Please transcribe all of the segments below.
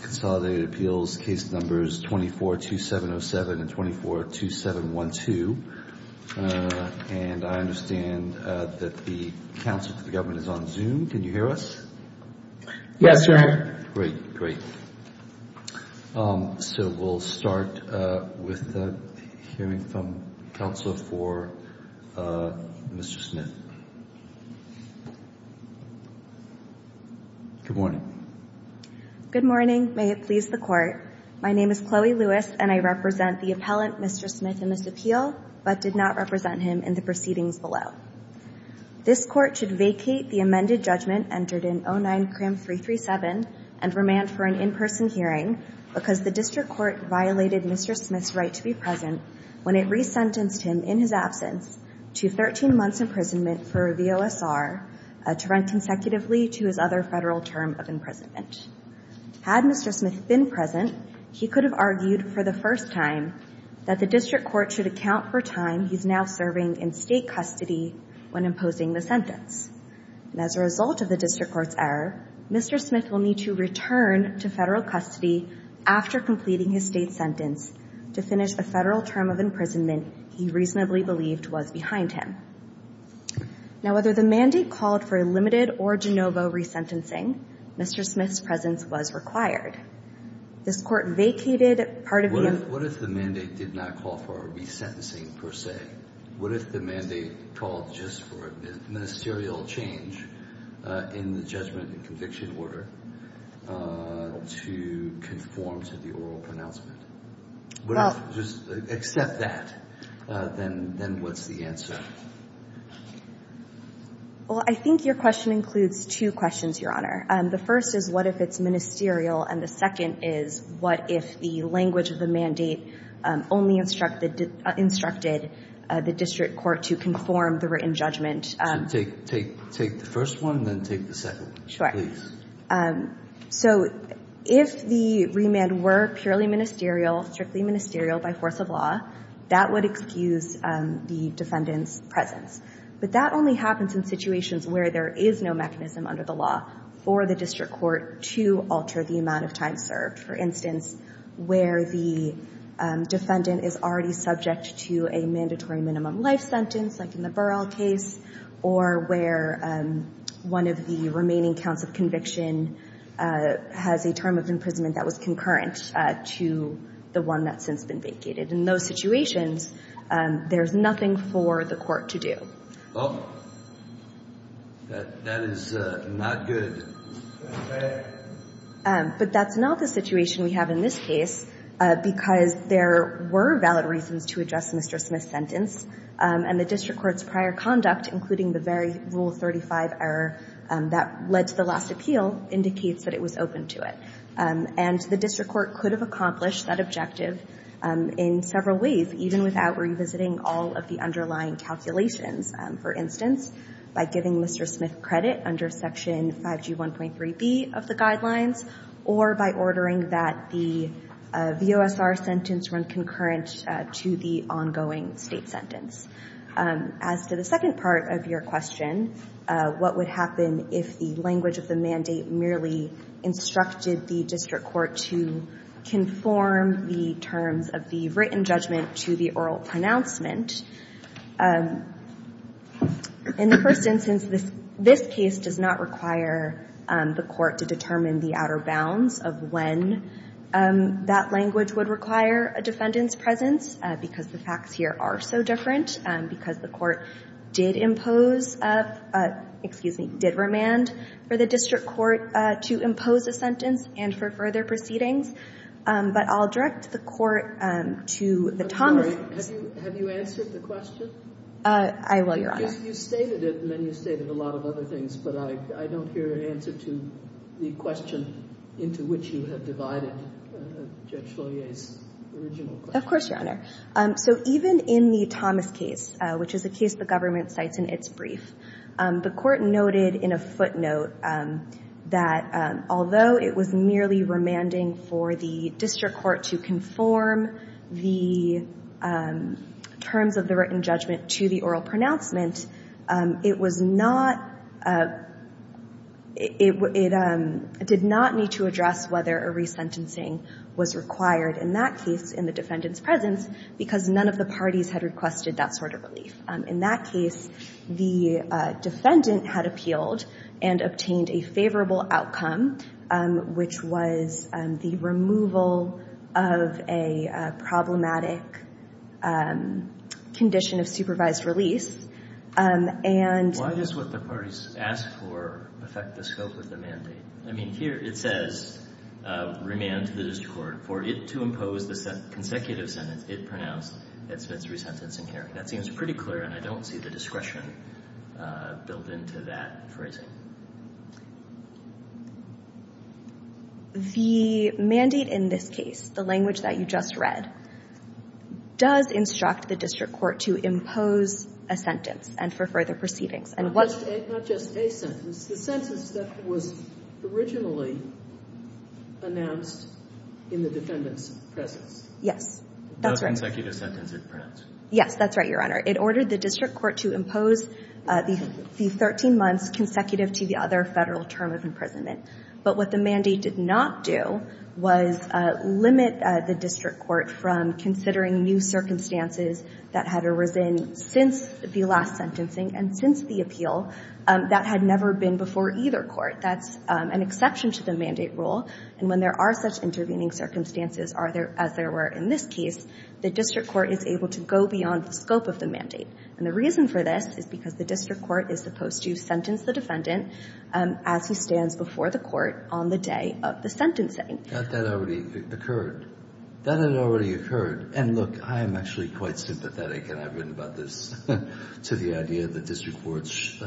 Consolidated Appeals, Case Numbers 242707 and 242712, and I understand that the Council to the Government is on Zoom. Can you hear us? Yes, sir. Great, great. So we'll start with the hearing from counsel for Mr. Smith. Good morning. Good morning. May it please the Court. My name is Chloe Lewis, and I represent the appellant, Mr. Smith, in this appeal, but did not represent him in the proceedings below. This Court should vacate the amended judgment entered in 09-CRIM-337 and remand for an in-person hearing because the District Court violated Mr. Smith's right to be present when it resentenced him in his absence to 13 months' imprisonment for a VOSR to run consecutively to his other federal term of imprisonment. Had Mr. Smith been present, he could have argued for the first time that the District Court should account for time he's now serving in state custody when imposing the sentence. And as a result of the District Court's error, Mr. Smith will need to return to federal custody after completing his state sentence to finish the federal term of imprisonment he reasonably believed was behind him. Now, whether the mandate called for a limited or de novo resentencing, Mr. Smith's presence was required. This Court vacated part of the amendment. What if the mandate did not call for a resentencing per se? What if the mandate called just for a ministerial change in the judgment and conviction order to conform to the oral pronouncement? What if, just accept that, then what's the answer? Well, I think your question includes two questions, Your Honor. The first is what if it's ministerial, and the second is what if the language of the mandate only instructed the District Court to conform the written judgment. So take the first one, then take the second one. Sure. Please. So if the remand were purely ministerial, strictly ministerial by force of law, that would excuse the defendant's presence. But that only happens in situations where there is no mechanism under the law for the District Court to alter the amount of time served. For instance, where the defendant is already subject to a mandatory minimum life sentence, like in the Burrell case, or where one of the remaining counts of conviction has a term of imprisonment that was concurrent to the one that's since been vacated. In those situations, there's nothing for the Court to do. Well, that is not good. But that's not the situation we have in this case, because there were valid reasons to address Mr. Smith's sentence. And the District Court's prior conduct, including the very Rule 35 error that led to the last appeal, indicates that it was open to it. And the District Court could have accomplished that objective in several ways, even without revisiting all of the underlying calculations. For instance, by giving Mr. Smith credit under Section 5G1.3b of the Guidelines, or by ordering that the VOSR sentence run concurrent to the ongoing State sentence. As to the second part of your question, what would happen if the language of the mandate merely instructed the District Court to conform the terms of the written judgment to the oral pronouncement? In the first instance, this case does not require the Court to determine the outer bounds of when that language would require a defendant's presence, because the facts here are so different, because the Court did impose, excuse me, did remand for the District Court to impose a sentence and for further proceedings. But I'll direct the Court to the Thomas case. Have you answered the question? I will, Your Honor. You stated it, and then you stated a lot of other things. But I don't hear an answer to the question into which you have divided Judge Follier's original question. Of course, Your Honor. So even in the Thomas case, which is a case the government cites in its brief, the Court noted in a footnote that although it was merely remanding for the District Court to conform the terms of the written judgment to the oral pronouncement, it did not need to address whether a resentencing was required in that case in the defendant's presence, because none of the parties had requested that sort of relief. In that case, the defendant had appealed and obtained a favorable outcome, which was the removal of a problematic condition of supervised release. And why does what the parties ask for affect the scope of the mandate? I mean, here it says remand to the District Court. For it to impose the consecutive sentence it pronounced, it's resentencing here. That seems pretty clear, and I don't see the discretion built into that phrasing. The mandate in this case, the language that you just read, does instruct the District Court to impose a sentence and for further proceedings. And what's the question? Not just a sentence. The sentence that was originally announced in the defendant's presence. Yes. That's right. The consecutive sentence it pronounced. Yes, that's right, Your Honor. It ordered the District Court to impose the 13 months consecutive to the other Federal term of imprisonment. But what the mandate did not do was limit the District Court from considering new circumstances that had arisen since the last sentencing and since the appeal that had never been before either court. That's an exception to the mandate rule, and when there are such intervening circumstances as there were in this case, the District Court is able to go beyond the scope of the mandate. And the reason for this is because the District Court is supposed to sentence the defendant as he stands before the court on the day of the sentencing. But that already occurred. That had already occurred. And look, I am actually quite sympathetic, and I've written about this, to the idea that District Courts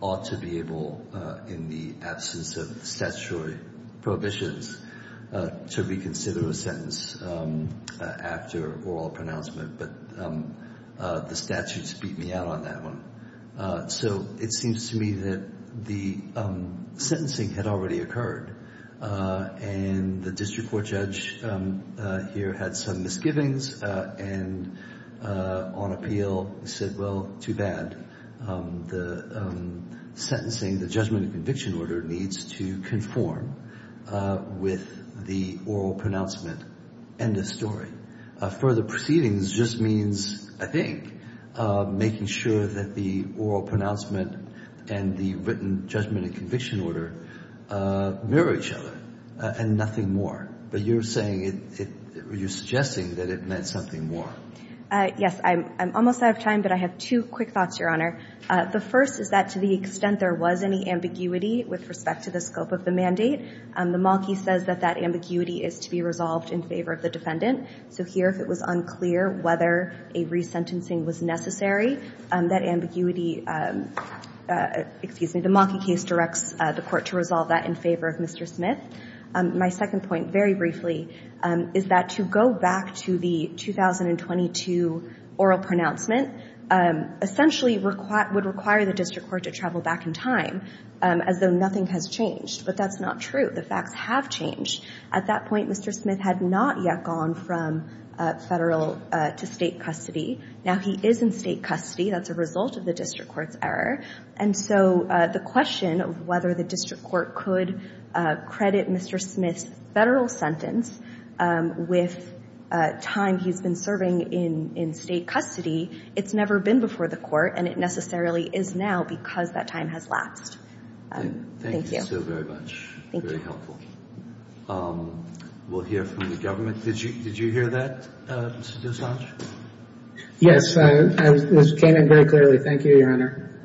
ought to be able, in the absence of statutory prohibitions, to reconsider a sentence after oral pronouncement. But the statutes beat me out on that one. So it seems to me that the sentencing had already occurred, and the District Court judge here had some misgivings, and on appeal said, well, too bad. The sentencing, the judgment of conviction order, needs to conform with the oral pronouncement. End of story. Further proceedings just means, I think, making sure that the oral pronouncement and the written judgment of conviction order mirror each other, and nothing more. But you're saying it – you're suggesting that it meant something more. Yes. I'm almost out of time, but I have two quick thoughts, Your Honor. The first is that to the extent there was any ambiguity with respect to the scope of the mandate, the malky says that that ambiguity is to be resolved in favor of the District Court. So here, if it was unclear whether a resentencing was necessary, that ambiguity – excuse me – the malky case directs the Court to resolve that in favor of Mr. Smith. My second point, very briefly, is that to go back to the 2022 oral pronouncement essentially would require the District Court to travel back in time, as though nothing has changed. But that's not true. The facts have changed. At that point, Mr. Smith had not yet gone from Federal to State custody. Now, he is in State custody. That's a result of the District Court's error. And so the question of whether the District Court could credit Mr. Smith's Federal sentence with time he's been serving in State custody, it's never been before the Court, and it necessarily is now because that time has lapsed. Thank you. Thank you so very much. Thank you. That's very helpful. We'll hear from the government. Did you hear that, Mr. Dosanjh? Yes. It came in very clearly. Thank you, Your Honor.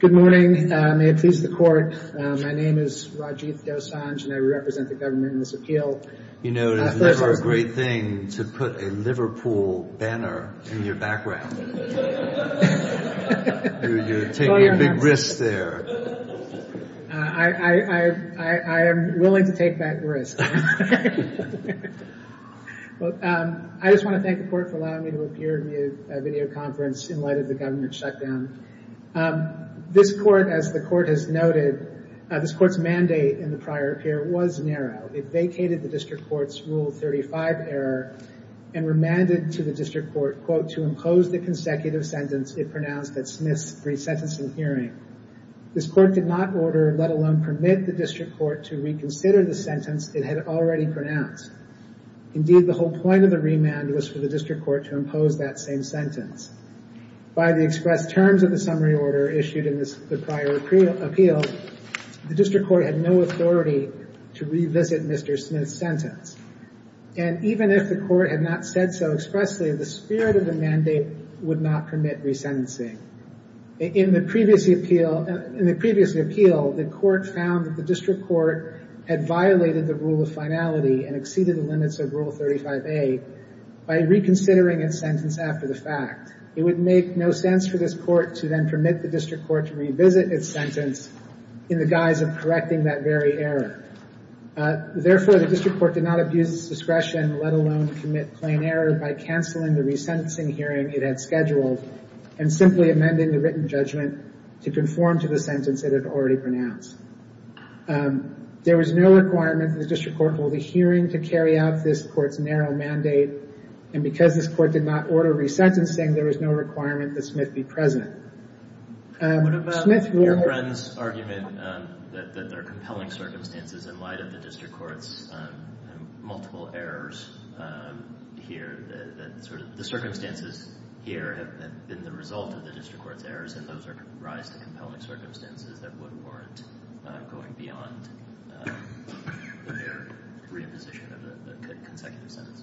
Good morning. May it please the Court. My name is Rajiv Dosanjh, and I represent the government in this appeal. You know, it's never a great thing to put a Liverpool banner in your background. You're taking a big risk there. I am willing to take that risk. I just want to thank the Court for allowing me to appear in the video conference in light of the government shutdown. This Court, as the Court has noted, this Court's mandate in the prior appearance was narrow. It vacated the District Court's Rule 35 error and remanded to the District Court, to impose the consecutive sentence it pronounced at Smith's resentencing hearing. This Court did not order, let alone permit, the District Court to reconsider the sentence it had already pronounced. Indeed, the whole point of the remand was for the District Court to impose that same sentence. By the expressed terms of the summary order issued in the prior appeal, the District Court had no authority to revisit Mr. Smith's sentence. And even if the Court had not said so expressly, the spirit of the mandate would not permit resentencing. In the previous appeal, the Court found that the District Court had violated the Rule of Finality and exceeded the limits of Rule 35a by reconsidering its sentence after the fact. It would make no sense for this Court to then permit the District Court to revisit its sentence in the guise of correcting that very error. Therefore, the District Court did not abuse its discretion, let alone commit plain error, by canceling the resentencing hearing it had scheduled and simply amending the written judgment to conform to the sentence it had already pronounced. There was no requirement that the District Court hold a hearing to carry out this Court's narrow mandate. And because this Court did not order resentencing, there was no requirement that Smith be present. One of your friends' argument that there are compelling circumstances in light of the District Court's multiple errors here, that the circumstances here have been the result of the District Court's errors and those are comprised of compelling circumstances that would warrant going beyond their reimposition of the consecutive sentence.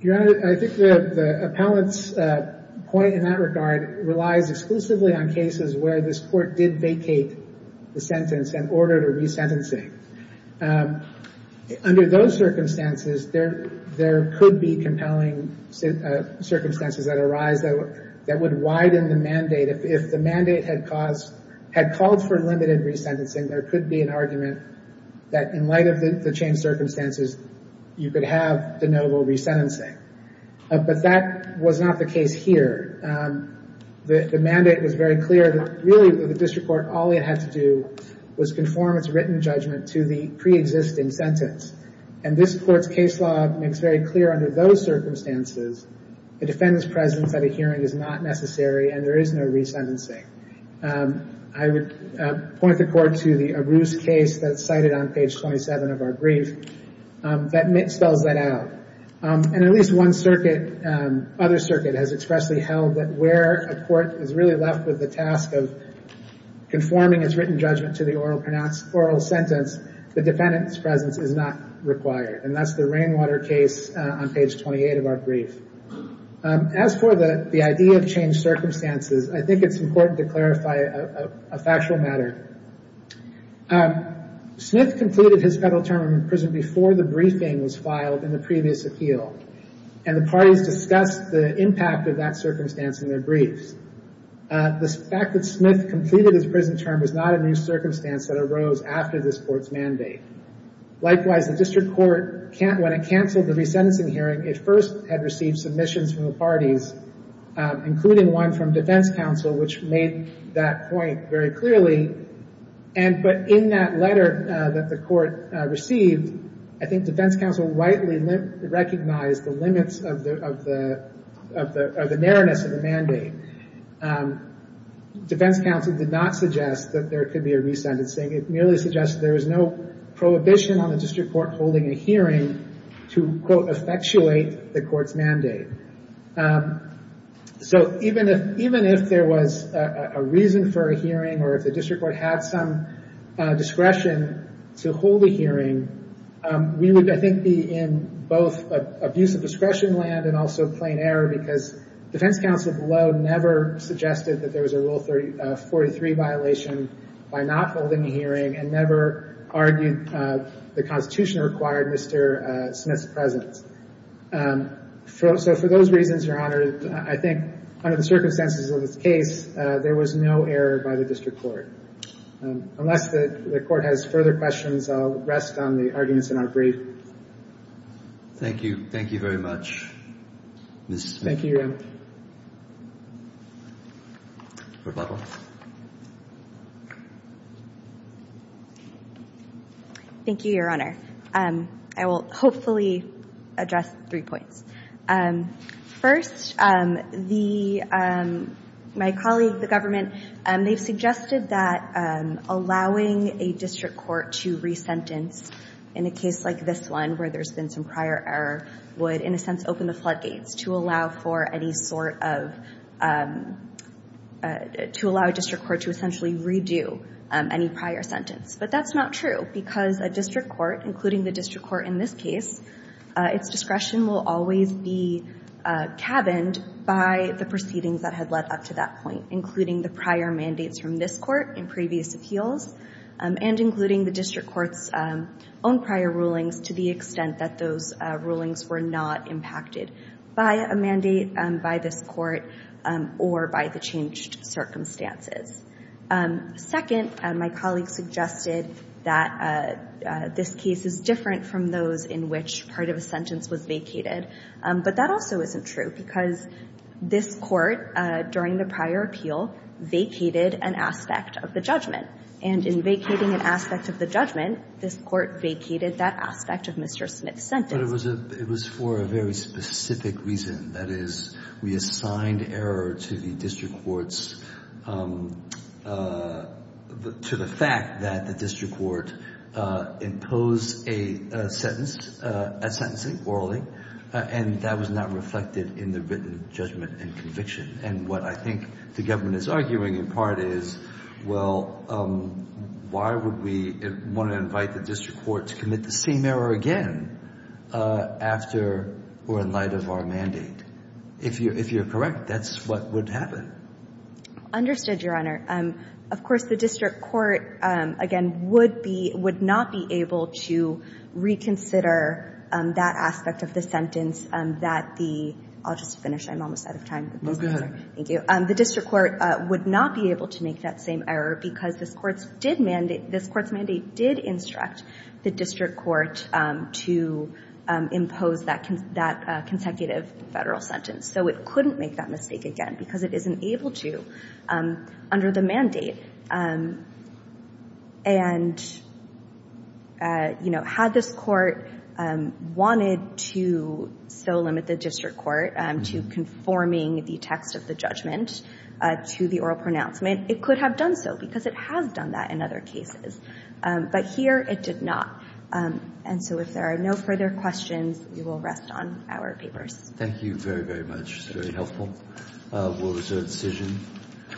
Your Honor, I think the appellant's point in that regard relies exclusively on cases where this Court did vacate the sentence and ordered a resentencing. Under those circumstances, there could be compelling circumstances that arise that would widen the mandate. If the mandate had called for limited resentencing, there could be an argument that in light of the changed circumstances, you could have denotable resentencing. But that was not the case here. The mandate was very clear that really the District Court, all it had to do was conform its written judgment to the preexisting sentence. And this Court's case law makes very clear under those circumstances the defendant's presence at a hearing is not necessary and there is no resentencing. I would point the Court to the Arouse case that's cited on page 27 of our brief that spells that out. And at least one circuit, other circuit, has expressly held that where a court is really left with the task of conforming its written judgment to the oral sentence, the defendant's presence is not required. And that's the Rainwater case on page 28 of our brief. As for the idea of changed circumstances, I think it's important to clarify a factual matter. Smith completed his federal term in prison before the briefing was filed in the previous appeal. And the parties discussed the impact of that circumstance in their briefs. The fact that Smith completed his prison term was not a new circumstance that arose after this Court's mandate. Likewise, the District Court, when it canceled the resentencing hearing, it first had received submissions from the parties, including one from defense counsel, which made that point very clearly. But in that letter that the Court received, I think defense counsel widely recognized the limits of the narrowness of the mandate. Defense counsel did not suggest that there could be a resentencing. It merely suggested there was no prohibition on the District Court holding a hearing to, quote, effectuate the Court's mandate. So even if there was a reason for a hearing or if the District Court had some discretion to hold a hearing, we would, I think, be in both abuse of discretion land and also plain error because defense counsel below never suggested that there was a Rule 43 violation by not holding a hearing and never argued the Constitution required Mr. Smith's presence. So for those reasons, Your Honor, I think under the circumstances of this case, there was no error by the District Court. Unless the Court has further questions, I'll rest on the arguments in our brief. Thank you. Thank you very much, Ms. Smith. Thank you, Your Honor. Rebuttal. Thank you, Your Honor. I will hopefully address three points. First, my colleague, the government, they've suggested that allowing a District Court to resentence in a case like this one where there's been some prior error would, in a sense, open the floodgates to allow for any sort of – to allow a District Court to essentially redo any prior sentence. But that's not true because a District Court, including the District Court in this case, its discretion will always be cabined by the proceedings that had led up to that point, including the prior mandates from this Court in previous appeals and including the District Court's own prior rulings to the extent that those rulings were not impacted by a mandate, by this Court, or by the changed circumstances. Second, my colleague suggested that this case is different from those in which part of a sentence was vacated. But that also isn't true because this Court, during the prior appeal, vacated an aspect of the judgment. And in vacating an aspect of the judgment, this Court vacated that aspect of Mr. Smith's sentence. But it was for a very specific reason. That is, we assigned error to the District Court's – to the fact that the District Court imposed a sentence, a sentencing orally, and that was not reflected in the written judgment and conviction. And what I think the government is arguing in part is, well, why would we want to invite the District Court to commit the same error again after or in light of our mandate? If you're correct, that's what would happen. Understood, Your Honor. Of course, the District Court, again, would be – would not be able to reconsider that aspect of the sentence that the – I'll just finish. I'm almost out of time. Go ahead. Thank you. The District Court would not be able to make that same error because this Court's mandate did instruct the District Court to impose that consecutive Federal sentence. So it couldn't make that mistake again because it isn't able to under the mandate. And, you know, had this Court wanted to so limit the District Court to conforming the text of the judgment to the oral pronouncement, it could have done so because it has done that in other cases. But here it did not. And so if there are no further questions, we will rest on our papers. Thank you very, very much. It's very helpful. We'll reserve the decision.